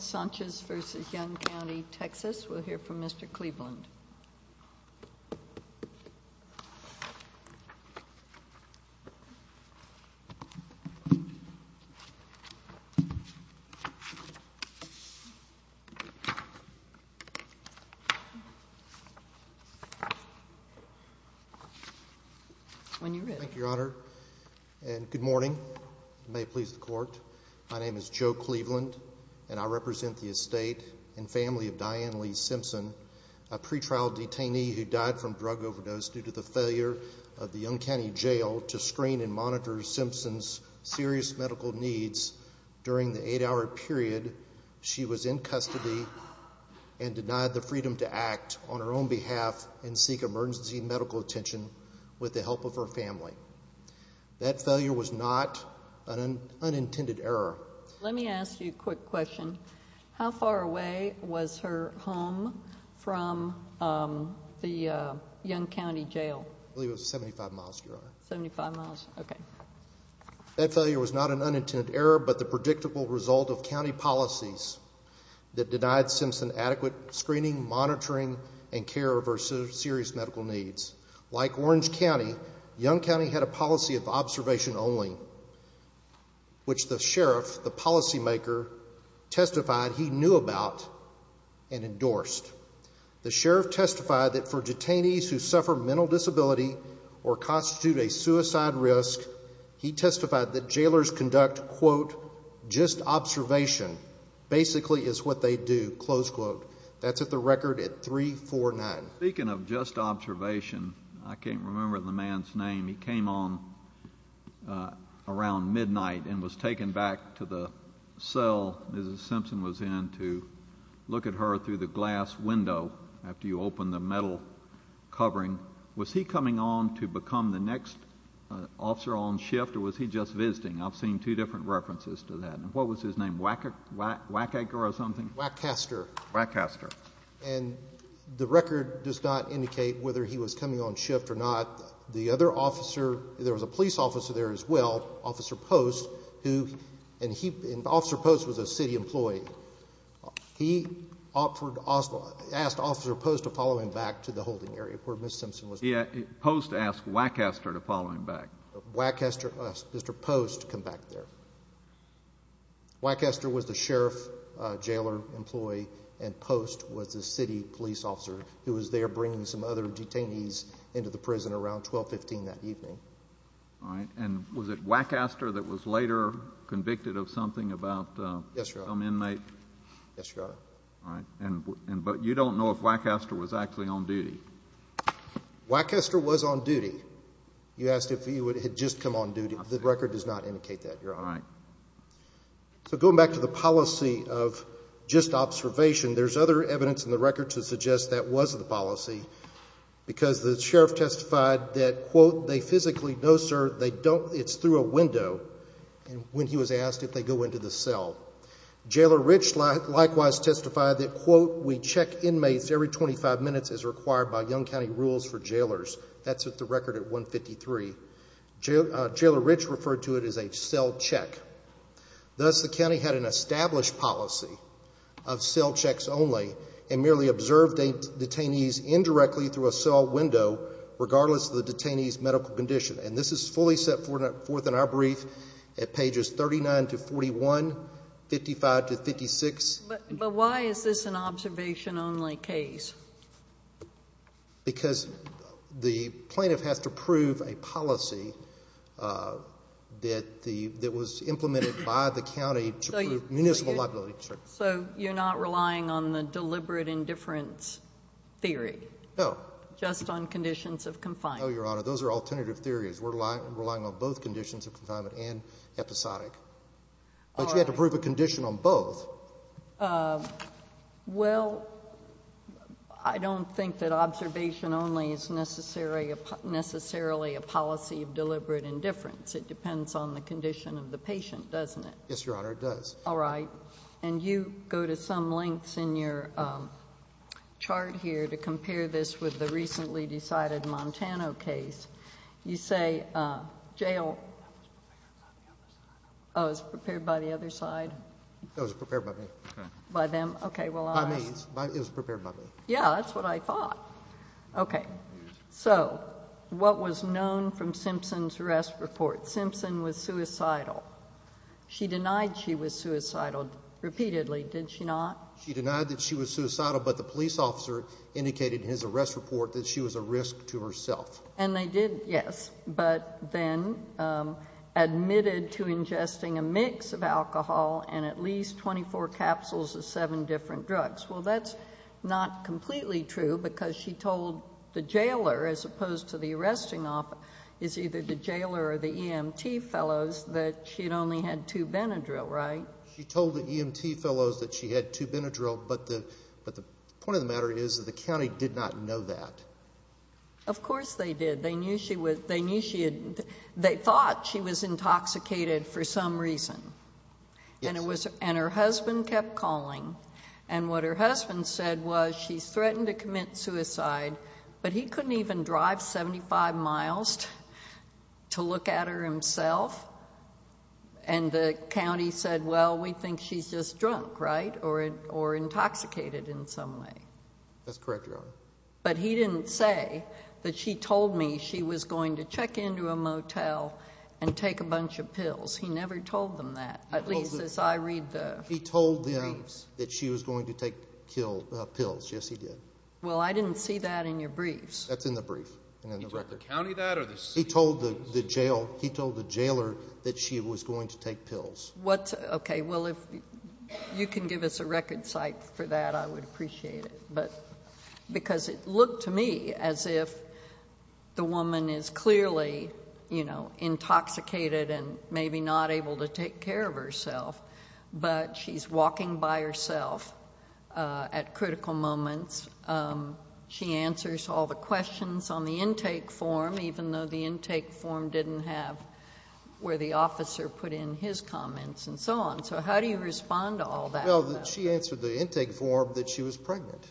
Sanchez v. Young County, Texas, we'll hear from Mr. Cleveland. Thank you, Your Honor, and good morning. May it please the court. My name is Joe Cleveland, and I represent the estate and family of Diane Lee Simpson, a pretrial detainee who died from drug overdose due to the failure of the Young County Jail to screen and monitor Simpson's serious medical needs during the eight hour period. She was in custody and denied the freedom to act on her own behalf and seek emergency medical attention with the help of her family. That failure was not an unintended error. Let me ask you a quick question. How far away was her home from the Young County Jail? I believe it was 75 miles, Your Honor. 75 miles? Okay. That failure was not an unintended error, but the predictable result of county policies that denied Simpson adequate screening, monitoring, and care of her serious medical needs. Like Orange County, Young County had a policy of observation only, which the sheriff, the policymaker, testified he knew about and endorsed. The sheriff testified that for detainees who suffer mental disability or constitute a suicide risk, he testified that jailers conduct, quote, just observation basically is what they do, close quote. That's at the record at 349. Speaking of just observation, I can't remember the man's name. He came on around midnight and was taken back to the cell Mrs. Simpson was in to look at her through the glass window after you opened the metal covering. Was he coming on to become the next officer on shift or was he just visiting? I've seen two different references to that. What was his name, Wackaker or something? Wackaster. Wackaster. And the record does not indicate whether he was coming on shift or not. The other officer, there was a police officer there as well, Officer Post, and Officer Post was a city employee. He asked Officer Post to follow him back to the holding area where Mrs. Simpson was. Post asked Wackaster to follow him back. Wackaster asked Mr. Post to come back there. Wackaster was the sheriff jailer employee and Post was the city police officer who was there bringing some other detainees into the prison around 1215 that evening. All right. And was it Wackaster that was later convicted of something about some inmate? Yes, Your Honor. All right. But you don't know if Wackaster was actually on duty. Wackaster was on duty. You asked if he had just come on duty. The record does not indicate that, Your Honor. All right. So going back to the policy of just observation, there's other evidence in the record to suggest that was the policy because the sheriff testified that, quote, they physically, no, sir, they don't, it's through a window when he was asked if they go into the cell. Jailer Rich likewise testified that, quote, we check inmates every 25 minutes as required by Yonge County rules for jailers. That's at the record at 153. Jailer Rich referred to it as a cell check. Thus, the county had an established policy of cell checks only and merely observed detainees indirectly through a cell window regardless of the detainee's medical condition. And this is fully set forth in our brief at pages 39 to 41, 55 to 56. But why is this an observation only case? Because the plaintiff has to prove a policy that was implemented by the county to prove municipal liability. So you're not relying on the deliberate indifference theory? No. Just on conditions of confinement? No, Your Honor. Those are alternative theories. We're relying on both conditions of confinement and episodic. But you have to prove a condition on both. Well, I don't think that observation only is necessarily a policy of deliberate indifference. It depends on the condition of the patient, doesn't it? Yes, Your Honor, it does. All right. And you go to some lengths in your chart here to compare this with the recently decided Montana case. You say jail. Oh, it was prepared by the other side? It was prepared by me. By them? By me. It was prepared by me. Yeah, that's what I thought. Okay. So what was known from Simpson's arrest report? Simpson was suicidal. She denied she was suicidal repeatedly, did she not? She denied that she was suicidal, but the police officer indicated in his arrest report that she was a risk to herself. And they did, yes, but then admitted to ingesting a mix of alcohol and at least 24 capsules of seven different drugs. Well, that's not completely true because she told the jailer, as opposed to the arresting officer, is either the jailer or the EMT fellows that she'd only had two Benadryl, right? She told the EMT fellows that she had two Benadryl, but the point of the matter is that the county did not know that. Of course they did. They knew she was, they knew she had, they thought she was intoxicated for some reason. Yes. And it was, and her husband kept calling and what her husband said was she's threatened to commit suicide, but he couldn't even drive 75 miles to look at her himself. And the county said, well, we think she's just drunk, right? Or intoxicated in some way. That's correct, Your Honor. But he didn't say that she told me she was going to check into a motel and take a bunch of pills. He never told them that, at least as I read the briefs. He told them that she was going to take pills. Yes, he did. Well, I didn't see that in your briefs. That's in the brief and in the record. He told the county that or the city? He told the jailer that she was going to take pills. Okay. Well, if you can give us a record site for that, I would appreciate it. But, because it looked to me as if the woman is clearly, you know, intoxicated and maybe not able to take care of herself, but she's walking by herself at critical moments. She answers all the questions on the intake form, even though the intake form didn't have where the officer put in his comments and so on. So how do you respond to all that? Well, she answered the intake form that she was pregnant.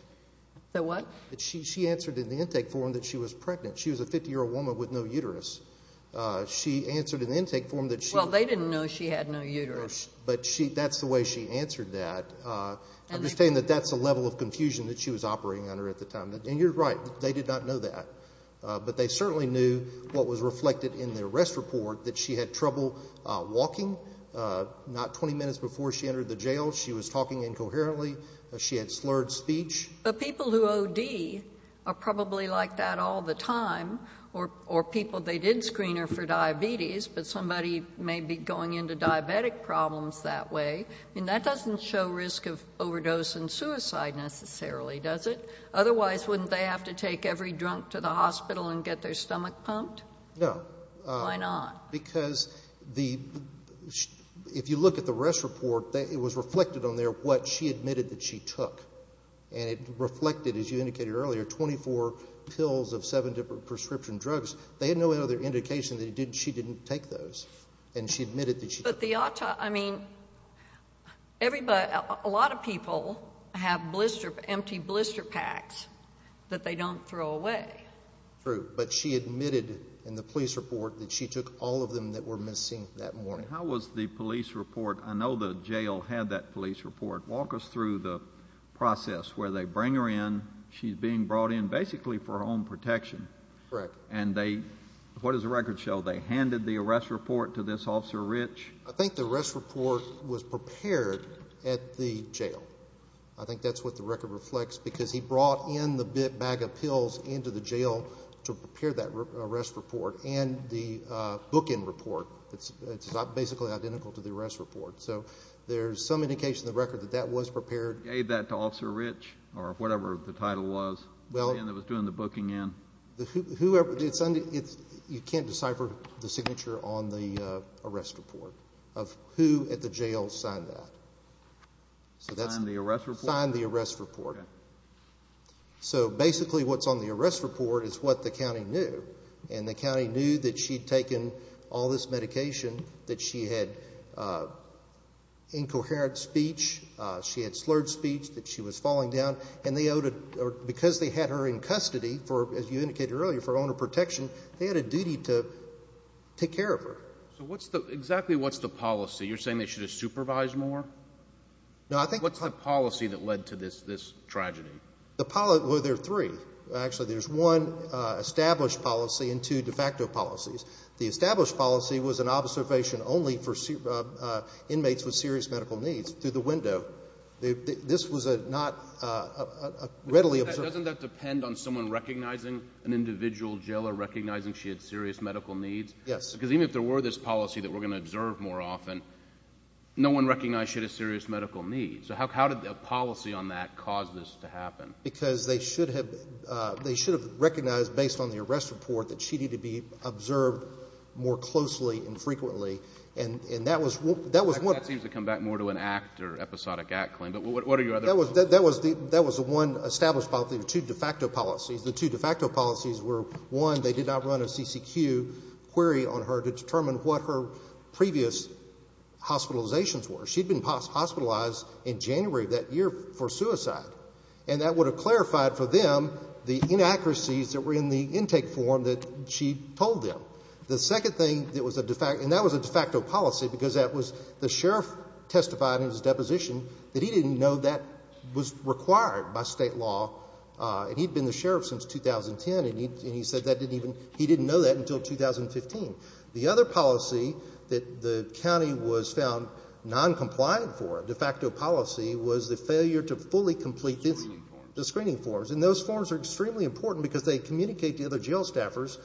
The what? She answered in the intake form that she was pregnant. She was a 50-year-old woman with no uterus. She answered in the intake form that she. Well, they didn't know she had no uterus. But that's the way she answered that. I'm just saying that that's a level of confusion that she was operating under at the time. And you're right. They did not know that. But they certainly knew what was reflected in the arrest report, that she had trouble walking, not 20 minutes before she entered the jail. She was talking incoherently. She had slurred speech. But people who OD are probably like that all the time, or people, they did screen her for diabetes, but somebody may be going into diabetic problems that way. And that doesn't show risk of overdose and suicide necessarily, does it? Otherwise, wouldn't they have to take every drunk to the hospital and get their stomach pumped? No. Why not? Because if you look at the arrest report, it was reflected on there what she admitted that she took. And it reflected, as you indicated earlier, 24 pills of seven different prescription drugs. They had no other indication that she didn't take those. And she admitted that she took them. I mean, a lot of people have empty blister packs that they don't throw away. True. But she admitted in the police report that she took all of them that were missing that morning. How was the police report? I know the jail had that police report. Walk us through the process where they bring her in. She's being brought in basically for home protection. Correct. And they, what does the record show? They handed the arrest report to this Officer Rich? I think the arrest report was prepared at the jail. I think that's what the record reflects because he brought in the bag of pills into the jail to prepare that arrest report and the bookend report. It's basically identical to the arrest report. So there's some indication in the record that that was prepared. Gave that to Officer Rich or whatever the title was. Well. The man that was doing the booking in. You can't decipher the signature on the arrest report of who at the jail signed that. Signed the arrest report? Signed the arrest report. Okay. So basically what's on the arrest report is what the county knew. And the county knew that she'd taken all this medication, that she had incoherent speech, she had slurred speech, that she was falling down. And because they had her in custody, as you indicated earlier, for owner protection, they had a duty to take care of her. So what's the, exactly what's the policy? You're saying they should have supervised more? No, I think. What's the policy that led to this tragedy? Well, there are three, actually. There's one established policy and two de facto policies. The established policy was an observation only for inmates with serious medical needs through the window. This was not readily observed. Doesn't that depend on someone recognizing an individual jailer, recognizing she had serious medical needs? Yes. Because even if there were this policy that we're going to observe more often, no one recognized she had a serious medical need. Because they should have recognized based on the arrest report that she needed to be observed more closely and frequently. And that was one. That seems to come back more to an act or episodic act claim. But what are your other? That was the one established policy with two de facto policies. The two de facto policies were, one, they did not run a CCQ query on her to determine what her previous hospitalizations were. She'd been hospitalized in January of that year for suicide. And that would have clarified for them the inaccuracies that were in the intake form that she told them. The second thing that was a de facto, and that was a de facto policy because that was the sheriff testified in his deposition that he didn't know that was required by state law. And he'd been the sheriff since 2010, and he said that didn't even, he didn't know that until 2015. The other policy that the county was found noncompliant for, a de facto policy, was the failure to fully complete the screening forms. And those forms are extremely important because they communicate to other jail staffers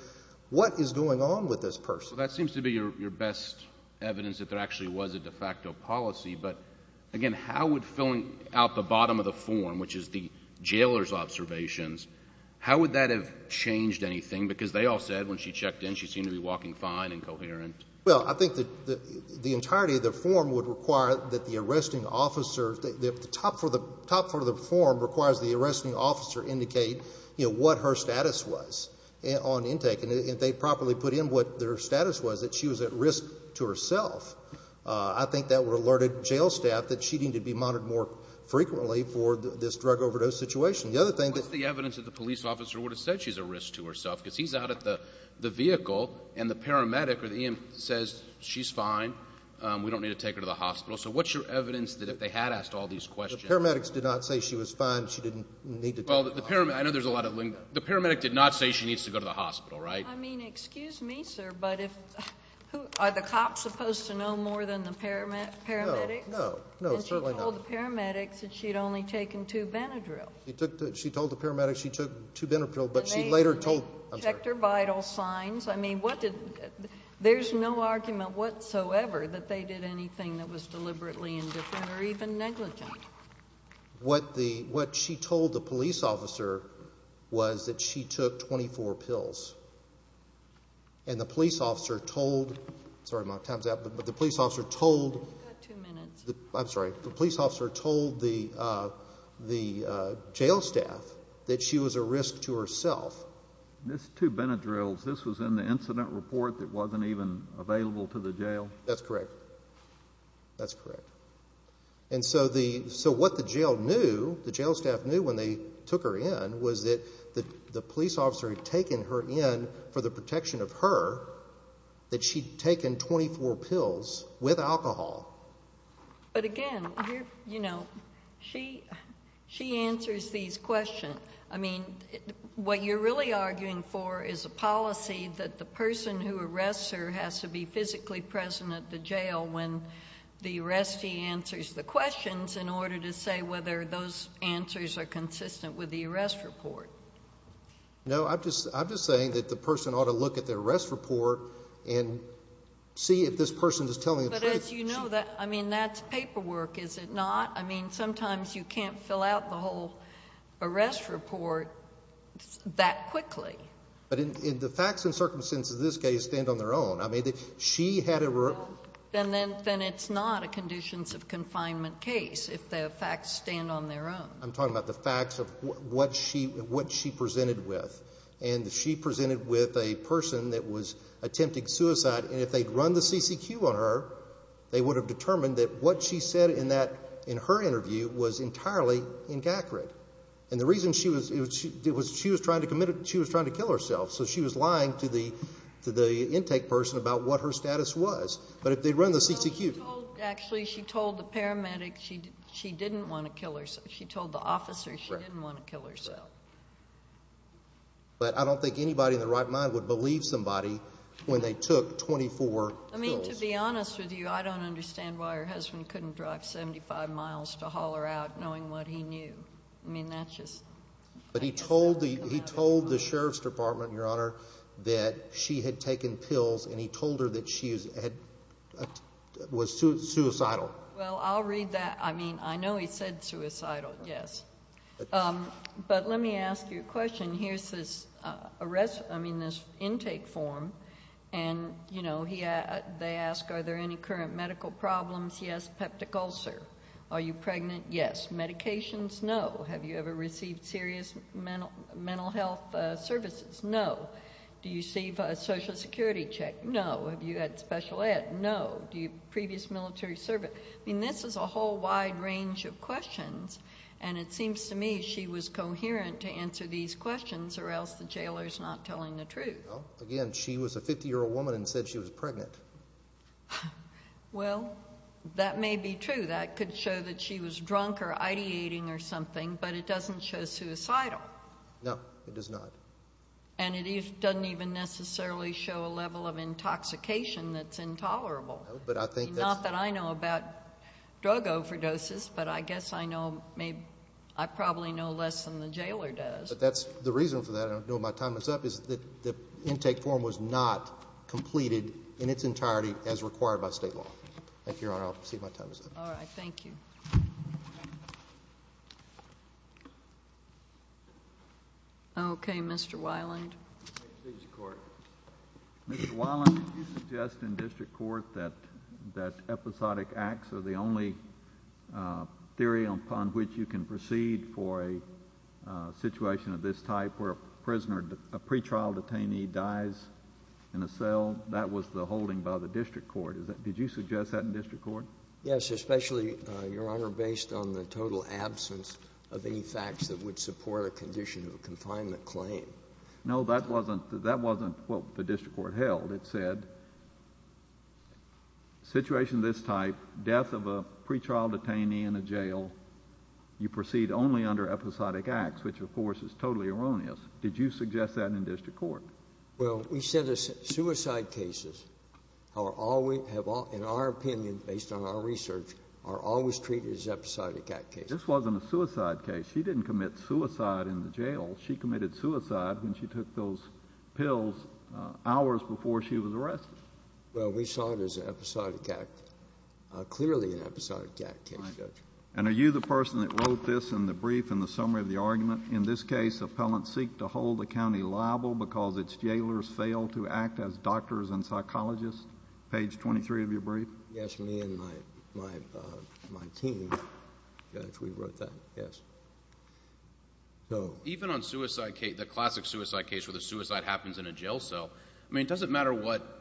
what is going on with this person. Well, that seems to be your best evidence that there actually was a de facto policy. But, again, how would filling out the bottom of the form, which is the jailer's observations, how would that have changed anything? Because they all said when she checked in she seemed to be walking fine and coherent. Well, I think that the entirety of the form would require that the arresting officer, the top part of the form requires the arresting officer indicate what her status was on intake. And if they properly put in what their status was, that she was at risk to herself, I think that would alert jail staff that she needed to be monitored more frequently for this drug overdose situation. The other thing that What's the evidence that the police officer would have said she's at risk to herself? Because he's out at the vehicle and the paramedic or the EM says she's fine, we don't need to take her to the hospital. So what's your evidence that if they had asked all these questions The paramedics did not say she was fine, she didn't need to go to the hospital. Well, the paramedic, I know there's a lot of, the paramedic did not say she needs to go to the hospital, right? I mean, excuse me, sir, but if, who, are the cops supposed to know more than the paramedics? No, no, no, certainly not. And she told the paramedics that she'd only taken two Benadryl. She told the paramedics she took two Benadryl, but she later told They checked her vital signs, I mean, what did, there's no argument whatsoever that they did anything that was deliberately indifferent or even negligent. What the, what she told the police officer was that she took 24 pills. And the police officer told, sorry my time's up, but the police officer told You've got two minutes. I'm sorry, the police officer told the jail staff that she was a risk to herself. This two Benadryls, this was in the incident report that wasn't even available to the jail? That's correct, that's correct. And so the, so what the jail knew, the jail staff knew when they took her in was that the police officer had taken her in for the protection of her, that she'd taken 24 pills with alcohol. But again, you know, she, she answers these questions. I mean, what you're really arguing for is a policy that the person who arrests her has to be physically present at the jail when the arrestee answers the questions in order to say whether those answers are consistent with the arrest report. No, I'm just, I'm just saying that the person ought to look at the arrest report and see if this person is telling the truth. But as you know, that, I mean, that's paperwork, is it not? I mean, sometimes you can't fill out the whole arrest report that quickly. But in the facts and circumstances of this case stand on their own. I mean, she had a. Then it's not a conditions of confinement case if the facts stand on their own. I'm talking about the facts of what she, what she presented with. And she presented with a person that was attempting suicide. And if they'd run the C.C.Q. on her, they would have determined that what she said in that, in her interview was entirely inaccurate. And the reason she was, it was, she was trying to commit, she was trying to kill herself. So she was lying to the, to the intake person about what her status was. But if they'd run the C.C.Q. She told, actually, she told the paramedic she didn't want to kill herself. She told the officer she didn't want to kill herself. But I don't think anybody in their right mind would believe somebody when they took 24 pills. I mean, to be honest with you, I don't understand why her husband couldn't drive 75 miles to haul her out knowing what he knew. I mean, that's just. But he told the, he told the sheriff's department, Your Honor, that she had taken pills and he told her that she was suicidal. Well, I'll read that. I mean, I know he said suicidal, yes. But let me ask you a question. Here's this arrest, I mean, this intake form. And, you know, they ask are there any current medical problems? Yes, peptic ulcer. Are you pregnant? Yes. Medications? No. Have you ever received serious mental health services? No. Do you receive a Social Security check? No. Have you had special ed? No. Do you have previous military service? I mean, this is a whole wide range of questions. And it seems to me she was coherent to answer these questions or else the jailor's not telling the truth. Again, she was a 50-year-old woman and said she was pregnant. Well, that may be true. That could show that she was drunk or ideating or something, but it doesn't show suicidal. No, it does not. And it doesn't even necessarily show a level of intoxication that's intolerable. No, but I think that's... Not that I know about drug overdoses, but I guess I know maybe... I probably know less than the jailor does. But that's the reason for that, and I don't know if my time is up, is that the intake form was not completed in its entirety as required by State law. Thank you, Your Honor. I'll proceed if my time is up. All right, thank you. Okay, Mr. Weiland. Mr. Weiland, you suggest in district court that episodic acts are the only theory upon which you can proceed for a situation of this type where a prisoner, a pretrial detainee, dies in a cell. That was the holding by the district court. Did you suggest that in district court? Yes, especially, Your Honor, based on the total absence of any facts that would support a condition of a confinement claim. No, that wasn't what the district court held. It said, situation of this type, death of a pretrial detainee in a jail, you proceed only under episodic acts, which, of course, is totally erroneous. Did you suggest that in district court? Well, we said suicide cases, in our opinion, based on our research, are always treated as episodic act cases. This wasn't a suicide case. She didn't commit suicide in the jail. She committed suicide when she took those pills hours before she was arrested. Well, we saw it as an episodic act, clearly an episodic act case, Judge. And are you the person that wrote this in the brief and the summary of the argument? In this case, appellants seek to hold the county liable because its jailers fail to act as doctors and psychologists. Page 23 of your brief. Yes, me and my team actually wrote that. Yes. Even on suicide case, the classic suicide case where the suicide happens in a jail cell, I mean, it doesn't matter what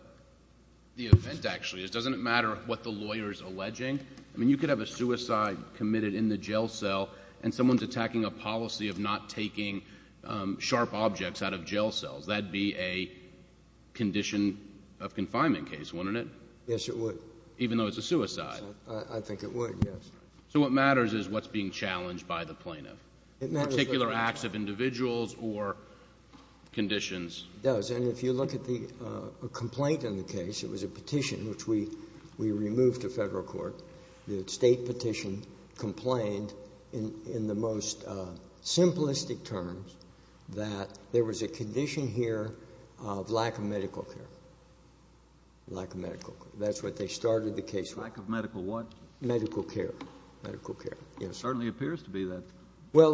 the event actually is. It doesn't matter what the lawyer is alleging. I mean, you could have a suicide committed in the jail cell, and someone's attacking a policy of not taking sharp objects out of jail cells. That would be a condition of confinement case, wouldn't it? Yes, it would. Even though it's a suicide. I think it would, yes. So what matters is what's being challenged by the plaintiff, particular acts of individuals or conditions. It does. And if you look at the complaint in the case, it was a petition which we removed to Federal court. The State petition complained in the most simplistic terms that there was a condition here of lack of medical care. Lack of medical care. That's what they started the case with. Lack of medical what? Medical care. Medical care. It certainly appears to be that. Well,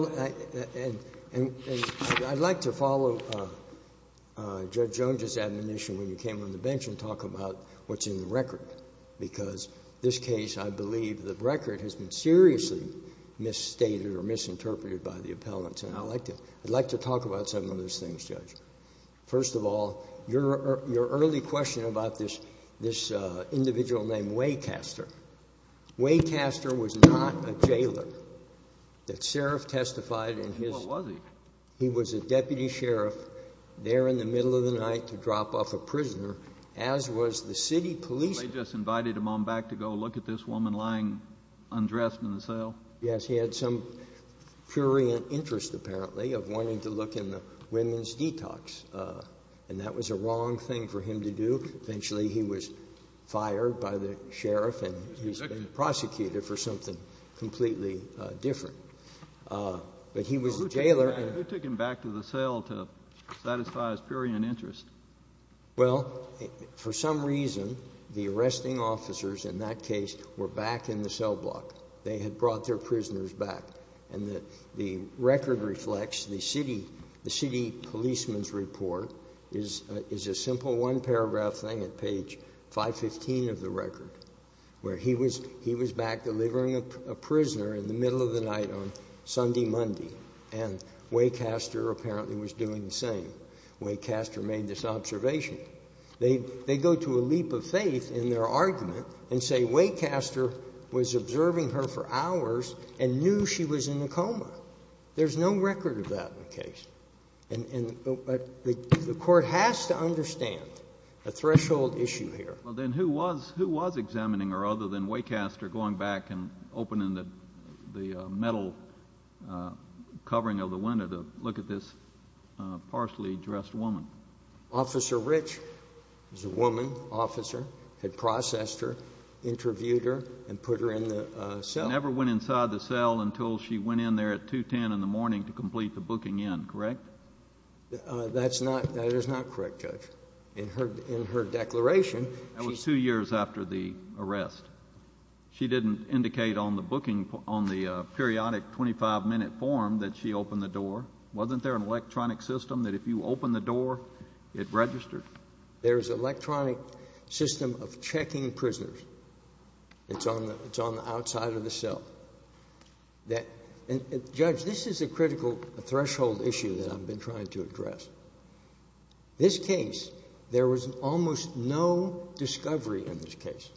and I'd like to follow Judge Jones's admonition when you came on the bench and talk about what's in the record, because this case I believe the record has been seriously misstated or misinterpreted by the appellants. And I'd like to talk about some of those things, Judge. First of all, your early question about this individual named Waycaster. Waycaster was not a jailer. That sheriff testified in his. What was he? He was a deputy sheriff there in the middle of the night to drop off a prisoner, as was the city police. They just invited him on back to go look at this woman lying undressed in the cell? Yes. He had some purient interest, apparently, of wanting to look in the women's detox. And that was a wrong thing for him to do. Eventually he was fired by the sheriff and he's been prosecuted for something completely different. But he was a jailer. Who took him back to the cell to satisfy his purient interest? Well, for some reason, the arresting officers in that case were back in the cell block. They had brought their prisoners back. And the record reflects the city policeman's report is a simple one-paragraph thing at page 515 of the record, where he was back delivering a prisoner in the middle of the night on Sunday, Monday, and Waycaster apparently was doing the same. Waycaster made this observation. They go to a leap of faith in their argument and say Waycaster was observing her for hours and knew she was in a coma. There's no record of that in the case. And the Court has to understand a threshold issue here. Well, then who was examining her other than Waycaster going back and opening the metal covering of the window to look at this partially dressed woman? Officer Rich was a woman, officer, had processed her, interviewed her, and put her in the cell. She never went inside the cell until she went in there at 210 in the morning to complete the booking in, correct? That's not – that is not correct, Judge. In her declaration, she said – That was two years after the arrest. She didn't indicate on the booking – on the periodic 25-minute form that she opened the door. Wasn't there an electronic system that if you opened the door, it registered? There is an electronic system of checking prisoners. It's on the outside of the cell. And, Judge, this is a critical threshold issue that I've been trying to address. This case, there was almost no discovery in this case.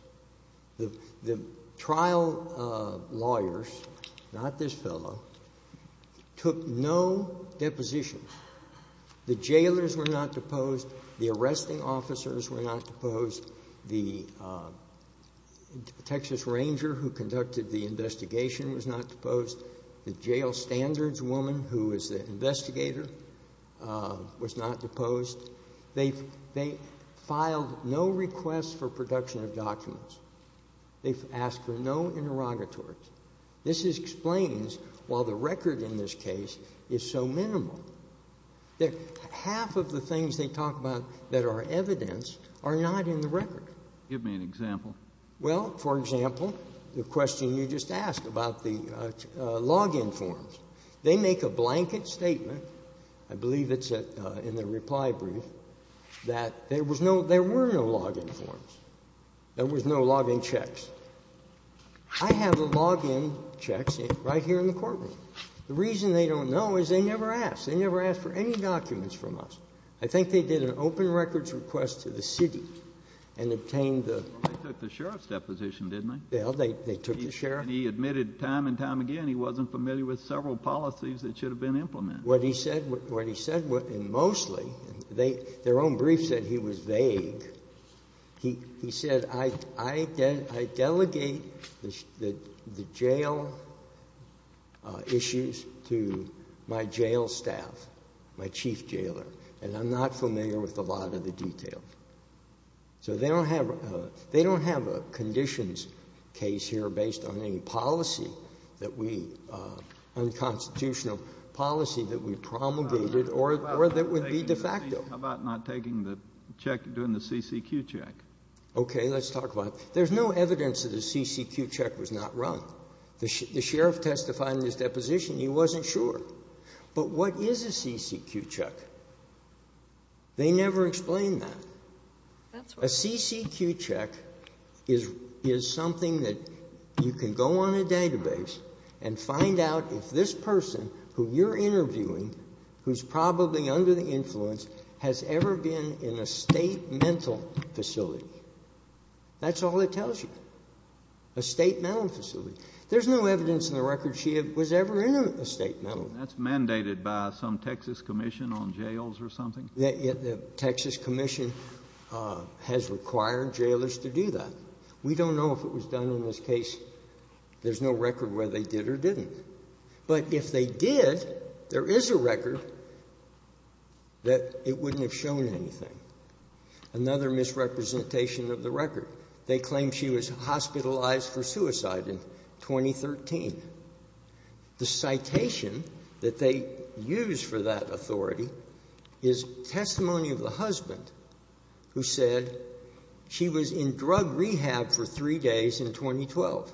The trial lawyers, not this fellow, took no depositions. The jailers were not deposed. The arresting officers were not deposed. The Texas Ranger who conducted the investigation was not deposed. The jail standards woman who was the investigator was not deposed. They filed no requests for production of documents. They've asked for no interrogatories. This explains, while the record in this case is so minimal, that half of the things they talk about that are evidence are not in the record. Give me an example. Well, for example, the question you just asked about the log-in forms. They make a blanket statement, I believe it's in the reply brief, that there were no log-in forms. There was no log-in checks. I have the log-in checks right here in the courtroom. The reason they don't know is they never asked. They never asked for any documents from us. I think they did an open records request to the city and obtained the ---- Well, they took the sheriff's deposition, didn't they? Well, they took the sheriff's. He admitted time and time again he wasn't familiar with several policies that should have been implemented. What he said, and mostly, their own brief said he was vague. He said, I delegate the jail issues to my jail staff, my chief jailer, and I'm not familiar with a lot of the details. So they don't have a conditions case here based on any policy that we, unconstitutional policy that we promulgated or that would be de facto. How about not taking the check, doing the CCQ check? Okay. Let's talk about it. There's no evidence that a CCQ check was not run. The sheriff testified in his deposition. He wasn't sure. But what is a CCQ check? They never explained that. That's right. A CCQ check is something that you can go on a database and find out if this person who you're interviewing, who's probably under the influence, has ever been in a state mental facility. That's all it tells you, a state mental facility. There's no evidence in the record she was ever in a state mental facility. That's mandated by some Texas commission on jails or something? The Texas commission has required jailers to do that. We don't know if it was done in this case. There's no record whether they did or didn't. But if they did, there is a record that it wouldn't have shown anything. Another misrepresentation of the record, they claimed she was hospitalized for suicide in 2013. The citation that they used for that authority is testimony of the husband who said she was in drug rehab for three days in 2012.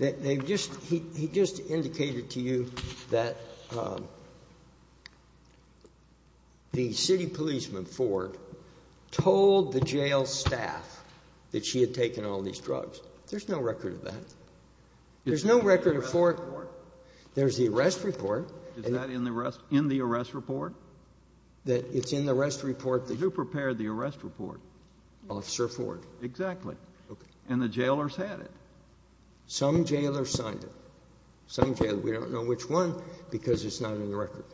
He just indicated to you that the city policeman, Ford, told the jail staff that she had taken all these drugs. There's no record of that. There's no record of Ford. There's the arrest report. Is that in the arrest report? It's in the arrest report. Who prepared the arrest report? Officer Ford. Exactly. Okay. And the jailers had it. Some jailers signed it. Some jailers. We don't know which one because it's not in the record.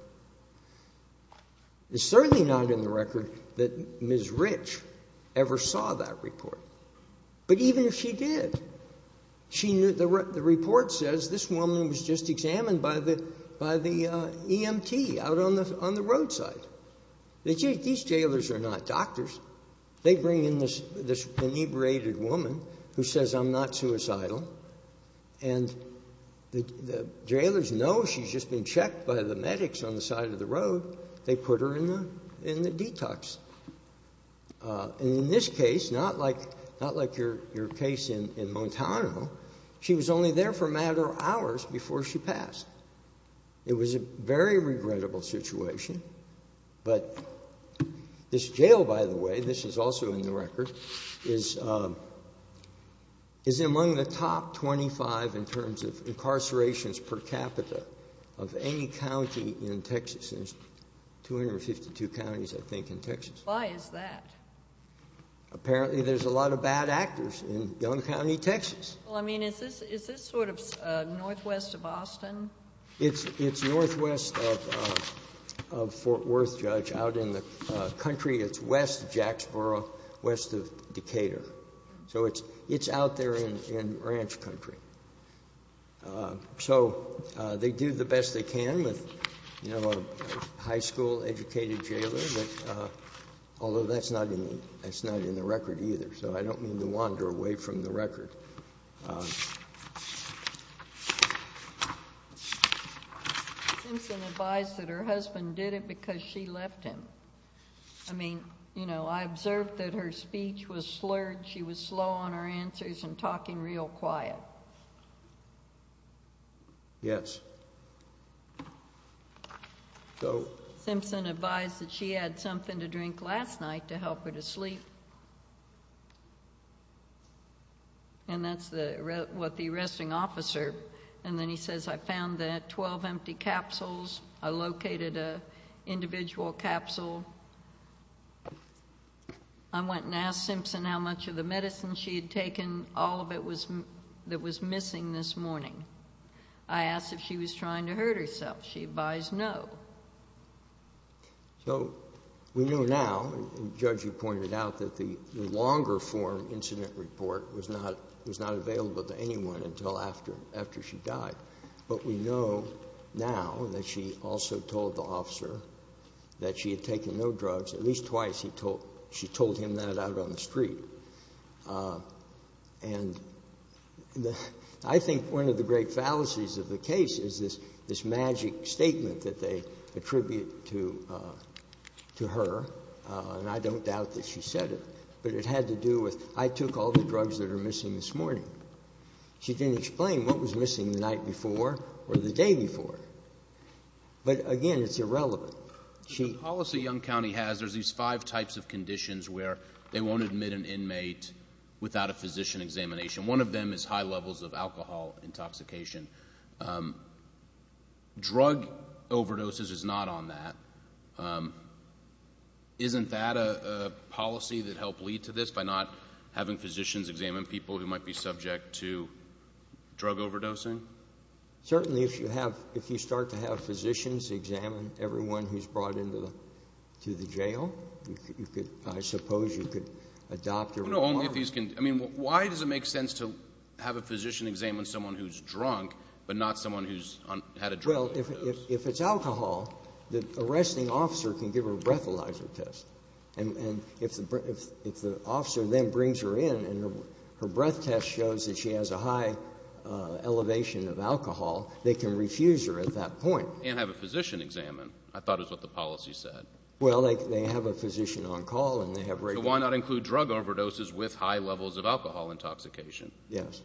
It's certainly not in the record that Ms. Rich ever saw that report. But even if she did, the report says this woman was just examined by the EMT out on the roadside. These jailers are not doctors. They bring in this inebriated woman who says, I'm not suicidal. And the jailers know she's just been checked by the medics on the side of the road. They put her in the detox. And in this case, not like your case in Montano, she was only there for a matter of hours before she passed. It was a very regrettable situation. But this jail, by the way, this is also in the record, is among the top 25 in terms of incarcerations per capita of any county in Texas. There's 252 counties, I think, in Texas. Why is that? Apparently, there's a lot of bad actors in Young County, Texas. Well, I mean, is this sort of northwest of Austin? It's northwest of Fort Worth, Judge. Out in the country, it's west of Jacksboro, west of Decatur. So it's out there in ranch country. So they do the best they can with a high school-educated jailer, although that's not in the record either. So I don't mean to wander away from the record. Simpson advised that her husband did it because she left him. I mean, you know, I observed that her speech was slurred. She was slow on her answers and talking real quiet. Yes. Simpson advised that she had something to drink last night to help her to sleep. And that's what the arresting officer, and then he says, I found that 12 empty capsules. I located an individual capsule. I went and asked Simpson how much of the medicine she had taken, all of it that was missing this morning. I asked if she was trying to hurt herself. She advised no. So we know now, and Judge, you pointed out, that the longer-form incident report was not available to anyone until after she died. But we know now that she also told the officer that she had taken no drugs. At least twice she told him that out on the street. And I think one of the great fallacies of the case is this magic statement that they attribute to her, and I don't doubt that she said it. But it had to do with, I took all the drugs that are missing this morning. She didn't explain what was missing the night before or the day before. But again, it's irrelevant. The policy Young County has, there's these five types of conditions where they won't admit an inmate without a physician examination. One of them is high levels of alcohol intoxication. Drug overdoses is not on that. Isn't that a policy that helped lead to this, by not having physicians examine people who might be subject to drug overdosing? Certainly, if you start to have physicians examine everyone who's brought into the jail, I suppose you could adopt a requirement. I mean, why does it make sense to have a physician examine someone who's drunk, but not someone who's had a drug overdose? Well, if it's alcohol, the arresting officer can give her a breathalyzer test. And if the officer then brings her in and her breath test shows that she has a high elevation of alcohol, they can refuse her at that point. And have a physician examine, I thought is what the policy said. Well, they have a physician on call, and they have a rate. So why not include drug overdoses with high levels of alcohol intoxication? Yes.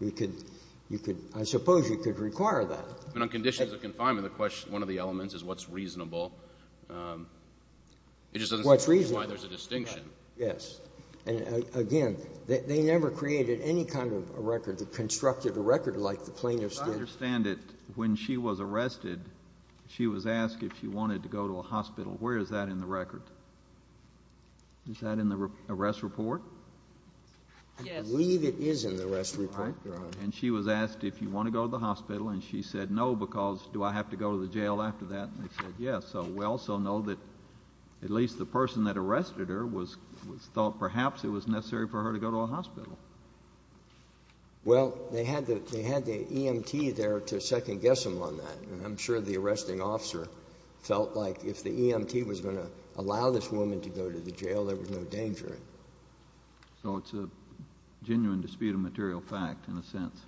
I suppose you could require that. I mean, on conditions of confinement, one of the elements is what's reasonable. It just doesn't seem like there's a distinction. Yes. And again, they never created any kind of a record. They constructed a record like the plaintiff's did. I understand that when she was arrested, she was asked if she wanted to go to a hospital. Where is that in the record? Is that in the arrest report? I believe it is in the arrest report, Your Honor. And she was asked if you want to go to the hospital, and she said no because do I have to go to the jail after that? And they said yes. So we also know that at least the person that arrested her thought perhaps it was necessary for her to go to a hospital. Well, they had the EMT there to second-guess them on that. And I'm sure the arresting officer felt like if the EMT was going to allow this woman to go to the jail, there was no danger. So it's a genuine dispute of material fact in a sense.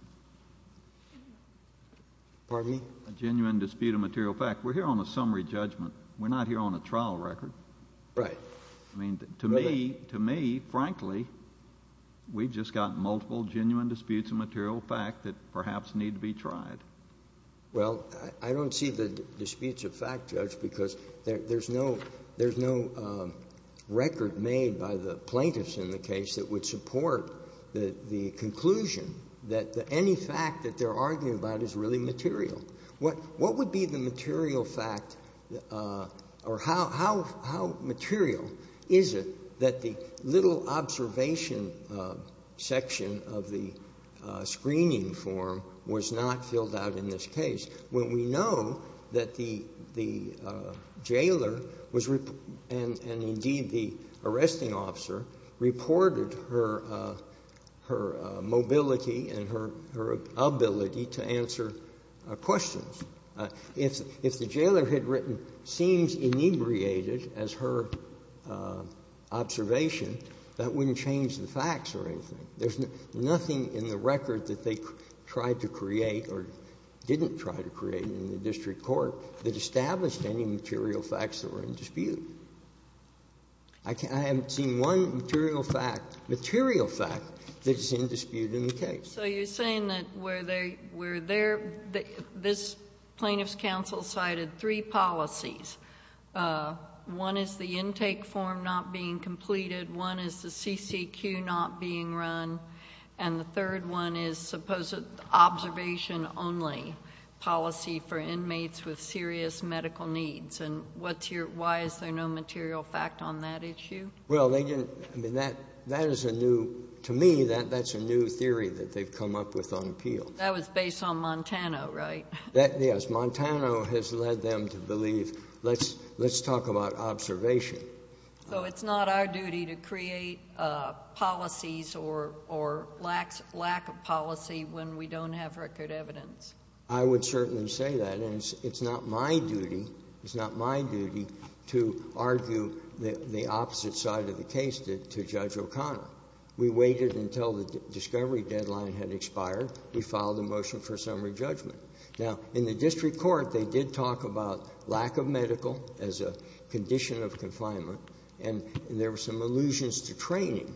Pardon me? A genuine dispute of material fact. We're here on a summary judgment. We're not here on a trial record. Right. I mean, to me, frankly, we've just got multiple genuine disputes of material fact that perhaps need to be tried. Well, I don't see the disputes of fact, Judge, because there's no record made by the plaintiffs in the case that would support the conclusion that any fact that they're arguing about is really material. What would be the material fact or how material is it that the little observation section of the screening form was not filled out in this case? Well, we know that the jailer was, and indeed the arresting officer, reported her mobility and her ability to answer questions. If the jailer had written, seems inebriated, as her observation, that wouldn't change the facts or anything. There's nothing in the record that they tried to create or didn't try to create in the district court that established any material facts that were in dispute. I haven't seen one material fact that's in dispute in the case. So you're saying that where they're, this plaintiff's counsel cited three policies. One is the intake form not being completed. One is the CCQ not being run. And the third one is supposed observation only policy for inmates with serious medical needs. And what's your, why is there no material fact on that issue? Well, they didn't, I mean, that is a new, to me, that's a new theory that they've come up with on appeal. That was based on Montano, right? That, yes. Montano has led them to believe, let's talk about observation. So it's not our duty to create policies or lack of policy when we don't have record evidence? I would certainly say that. And it's not my duty, it's not my duty to argue the opposite side of the case to Judge O'Connor. We waited until the discovery deadline had expired. We filed a motion for summary judgment. Now, in the district court, they did talk about lack of medical as a condition of confinement. And there were some allusions to training.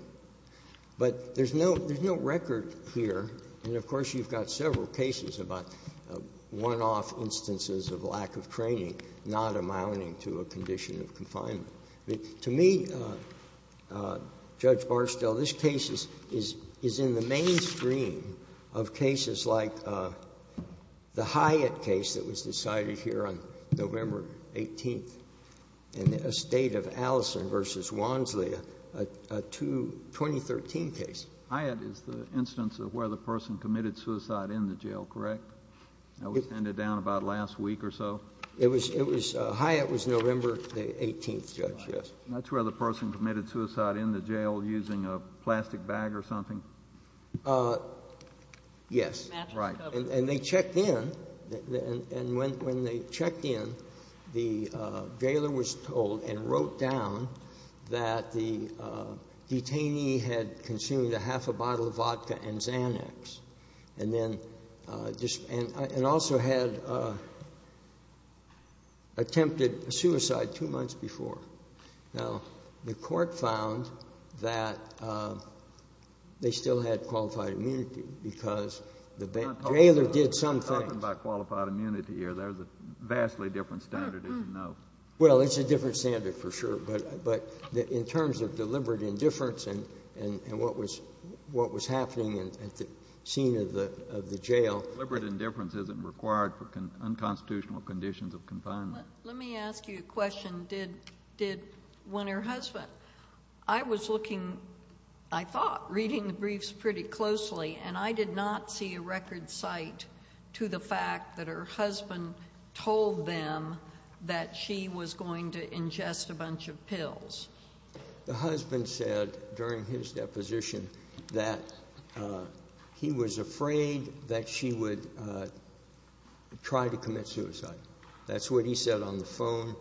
But there's no, there's no record here. And of course, you've got several cases about one-off instances of lack of training not amounting to a condition of confinement. To me, Judge Barstow, this case is in the mainstream of cases like the Hyatt case that was decided here on November 18th in the estate of Allison v. Wansley, a 2013 case. Hyatt is the instance of where the person committed suicide in the jail, correct? That was handed down about last week or so? It was Hyatt was November the 18th, Judge, yes. That's where the person committed suicide in the jail using a plastic bag or something? Yes. And they checked in. And when they checked in, the gaoler was told and wrote down that the detainee had consumed a half a bottle of vodka and Xanax. And then, and also had attempted suicide two months before. Now, the court found that they still had qualified immunity because the gaoler did some things. I'm not talking about qualified immunity here. There's a vastly different standard, as you know. Well, it's a different standard for sure. But in terms of deliberate indifference and what was happening at the scene of the jail. Deliberate indifference isn't required for unconstitutional conditions of confinement. Let me ask you a question. Did, when her husband, I was looking, I thought, reading the briefs pretty closely, and I did not see a record cite to the fact that her husband told them that she was going to ingest a bunch of pills. The husband said during his deposition that he was afraid that she would try to commit suicide. That's what he said on the phone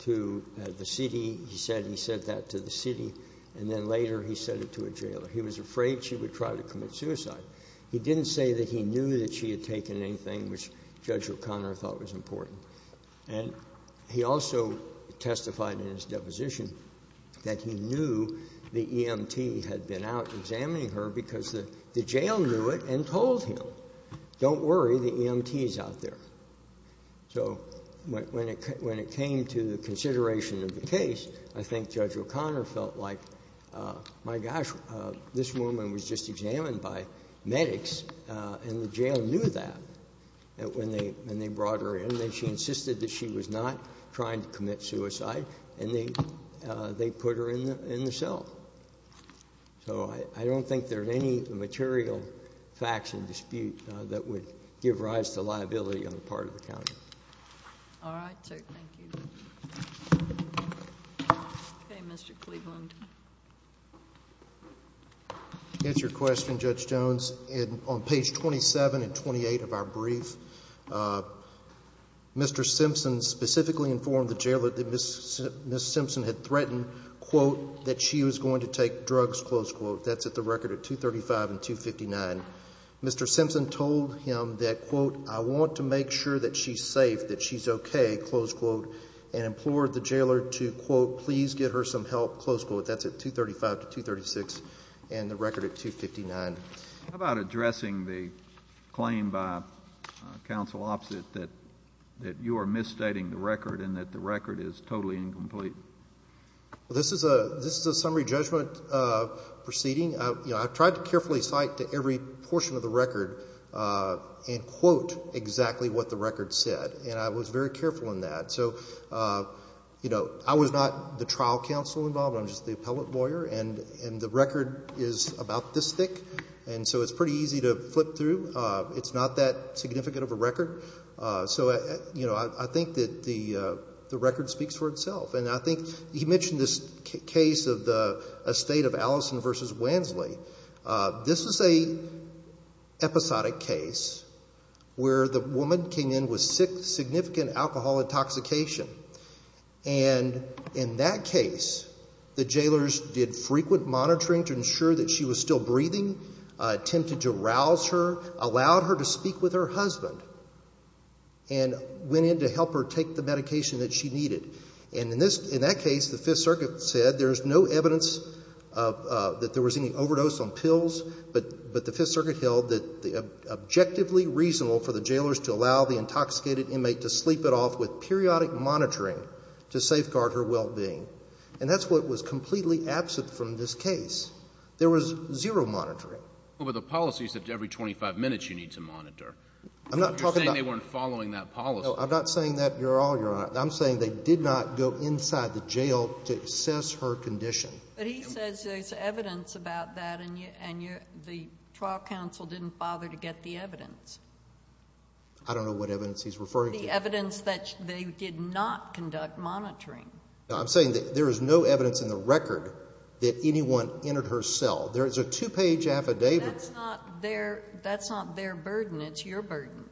to the city. He said he said that to the city. And then later he said it to a jailer. He was afraid she would try to commit suicide. He didn't say that he knew that she had taken anything, which Judge O'Connor thought was important. And he also testified in his deposition that he knew the EMT had been out examining her because the jail knew it and told him, don't worry, the EMT is out there. So when it came to the consideration of the case, I think Judge O'Connor felt like, my gosh, this woman was just examined by medics and the jail knew that when they brought her in. She insisted that she was not trying to commit suicide, and they put her in the cell. So I don't think there are any material facts in dispute that would give rise to liability on the part of the county. All right, sir. Thank you. Okay, Mr. Cleveland. To answer your question, Judge Jones, on page 27 and 28 of our brief, Mr. Simpson specifically informed the jailer that Ms. Simpson had threatened, quote, that she was going to take drugs, close quote. That's at the record at 235 and 259. Mr. Simpson told him that, quote, I want to make sure that she's safe, that she's okay, close quote, and implored the jailer to, quote, please get her some help, close quote. That's at 235 to 236 and the record at 259. How about addressing the claim by counsel opposite that you are misstating the record and that the record is totally incomplete? Well, this is a summary judgment proceeding. I've tried to carefully cite to every portion of the record and quote exactly what the record said, and I was very careful in that. So, you know, I was not the trial counsel involved. I'm just the appellate lawyer, and the record is about this thick, and so it's pretty easy to flip through. It's not that significant of a record. So, you know, I think that the record speaks for itself, and I think he mentioned this case of the estate of Allison v. Wensley. This is an episodic case where the woman came in with significant alcohol intoxication, and in that case the jailers did frequent monitoring to ensure that she was still breathing, attempted to rouse her, allowed her to speak with her husband, and went in to help her take the medication that she needed. And in that case the Fifth Circuit said there's no evidence that there was any overdose on pills, but the Fifth Circuit held that it was objectively reasonable for the jailers to allow the intoxicated inmate to sleep it off with periodic monitoring to safeguard her well-being. And that's what was completely absent from this case. There was zero monitoring. Well, but the policy said every 25 minutes you need to monitor. I'm not talking about... You're saying they weren't following that policy. No, I'm not saying that at all, Your Honor. I'm saying they did not go inside the jail to assess her condition. But he says there's evidence about that, and the trial counsel didn't bother to get the evidence. I don't know what evidence he's referring to. The evidence that they did not conduct monitoring. I'm saying that there is no evidence in the record that anyone entered her cell. There is a two-page affidavit. That's not their burden. It's your burden.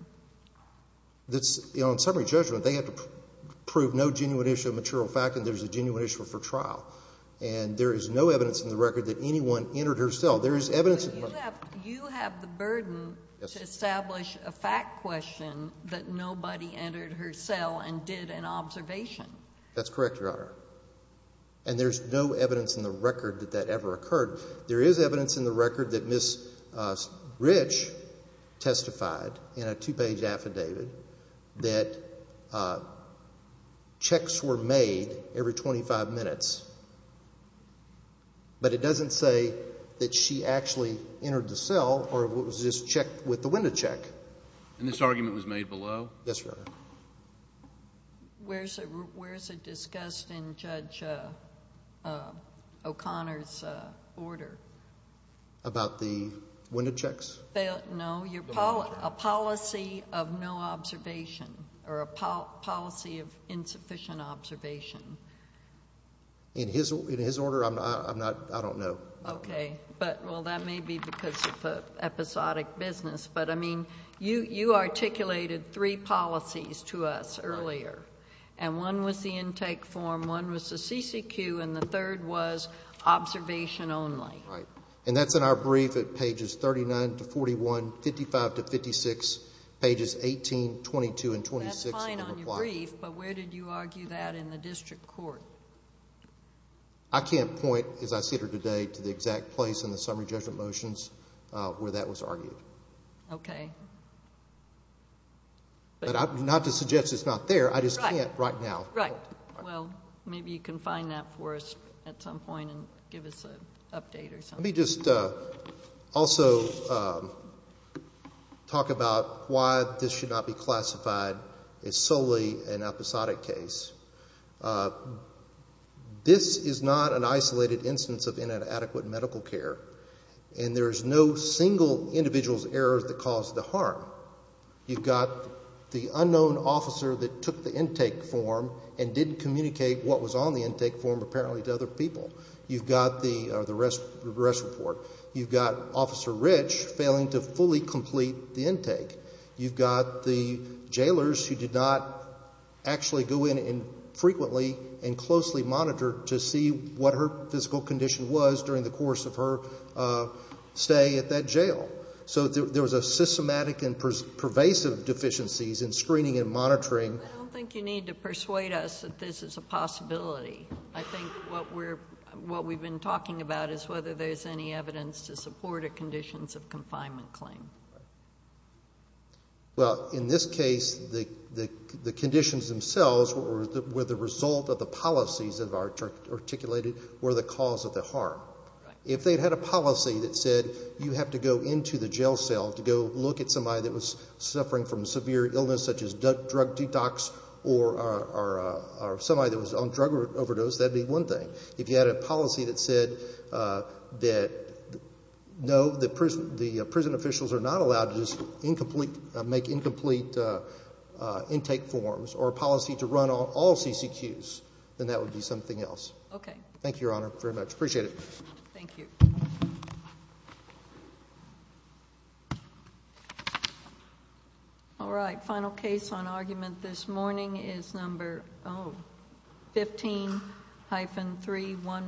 In summary judgment, they have to prove no genuine issue of material fact, and there's a genuine issue for trial. But you have the burden to establish a fact question that nobody entered her cell and did an observation. That's correct, Your Honor. And there's no evidence in the record that that ever occurred. There is evidence in the record that Ms. Rich testified in a two-page affidavit that checks were made every 25 minutes. But it doesn't say that she actually entered the cell or it was just checked with the window check. And this argument was made below? Yes, Your Honor. Where is it discussed in Judge O'Connor's order? About the window checks? No, a policy of no observation or a policy of insufficient observation. In his order, I don't know. Okay. Well, that may be because of episodic business. But, I mean, you articulated three policies to us earlier. And one was the intake form, one was the CCQ, and the third was observation only. Right. And that's in our brief at pages 39 to 41, 55 to 56, pages 18, 22, and 26. But where did you argue that in the district court? I can't point, as I seated her today, to the exact place in the summary judgment motions where that was argued. Okay. But not to suggest it's not there, I just can't right now. Right. Well, maybe you can find that for us at some point and give us an update or something. Let me just also talk about why this should not be classified as solely an episodic case. This is not an isolated instance of inadequate medical care. And there is no single individual's error that caused the harm. You've got the unknown officer that took the intake form and didn't communicate what was on the intake form apparently to other people. You've got the arrest report. You've got Officer Rich failing to fully complete the intake. You've got the jailers who did not actually go in frequently and closely monitor to see what her physical condition was during the course of her stay at that jail. So there was a systematic and pervasive deficiencies in screening and monitoring. I don't think you need to persuade us that this is a possibility. I think what we've been talking about is whether there's any evidence to support a conditions of confinement claim. Well, in this case, the conditions themselves were the result of the policies that are articulated were the cause of the harm. If they had a policy that said you have to go into the jail cell to go look at somebody that was suffering from severe illness such as drug detox or somebody that was on drug overdose, that would be one thing. If you had a policy that said no, the prison officials are not allowed to make incomplete intake forms or a policy to run all CCQs, then that would be something else. Okay. Thank you, Your Honor, very much. Appreciate it. Thank you. All right. Final case on argument this morning is number 15-3114.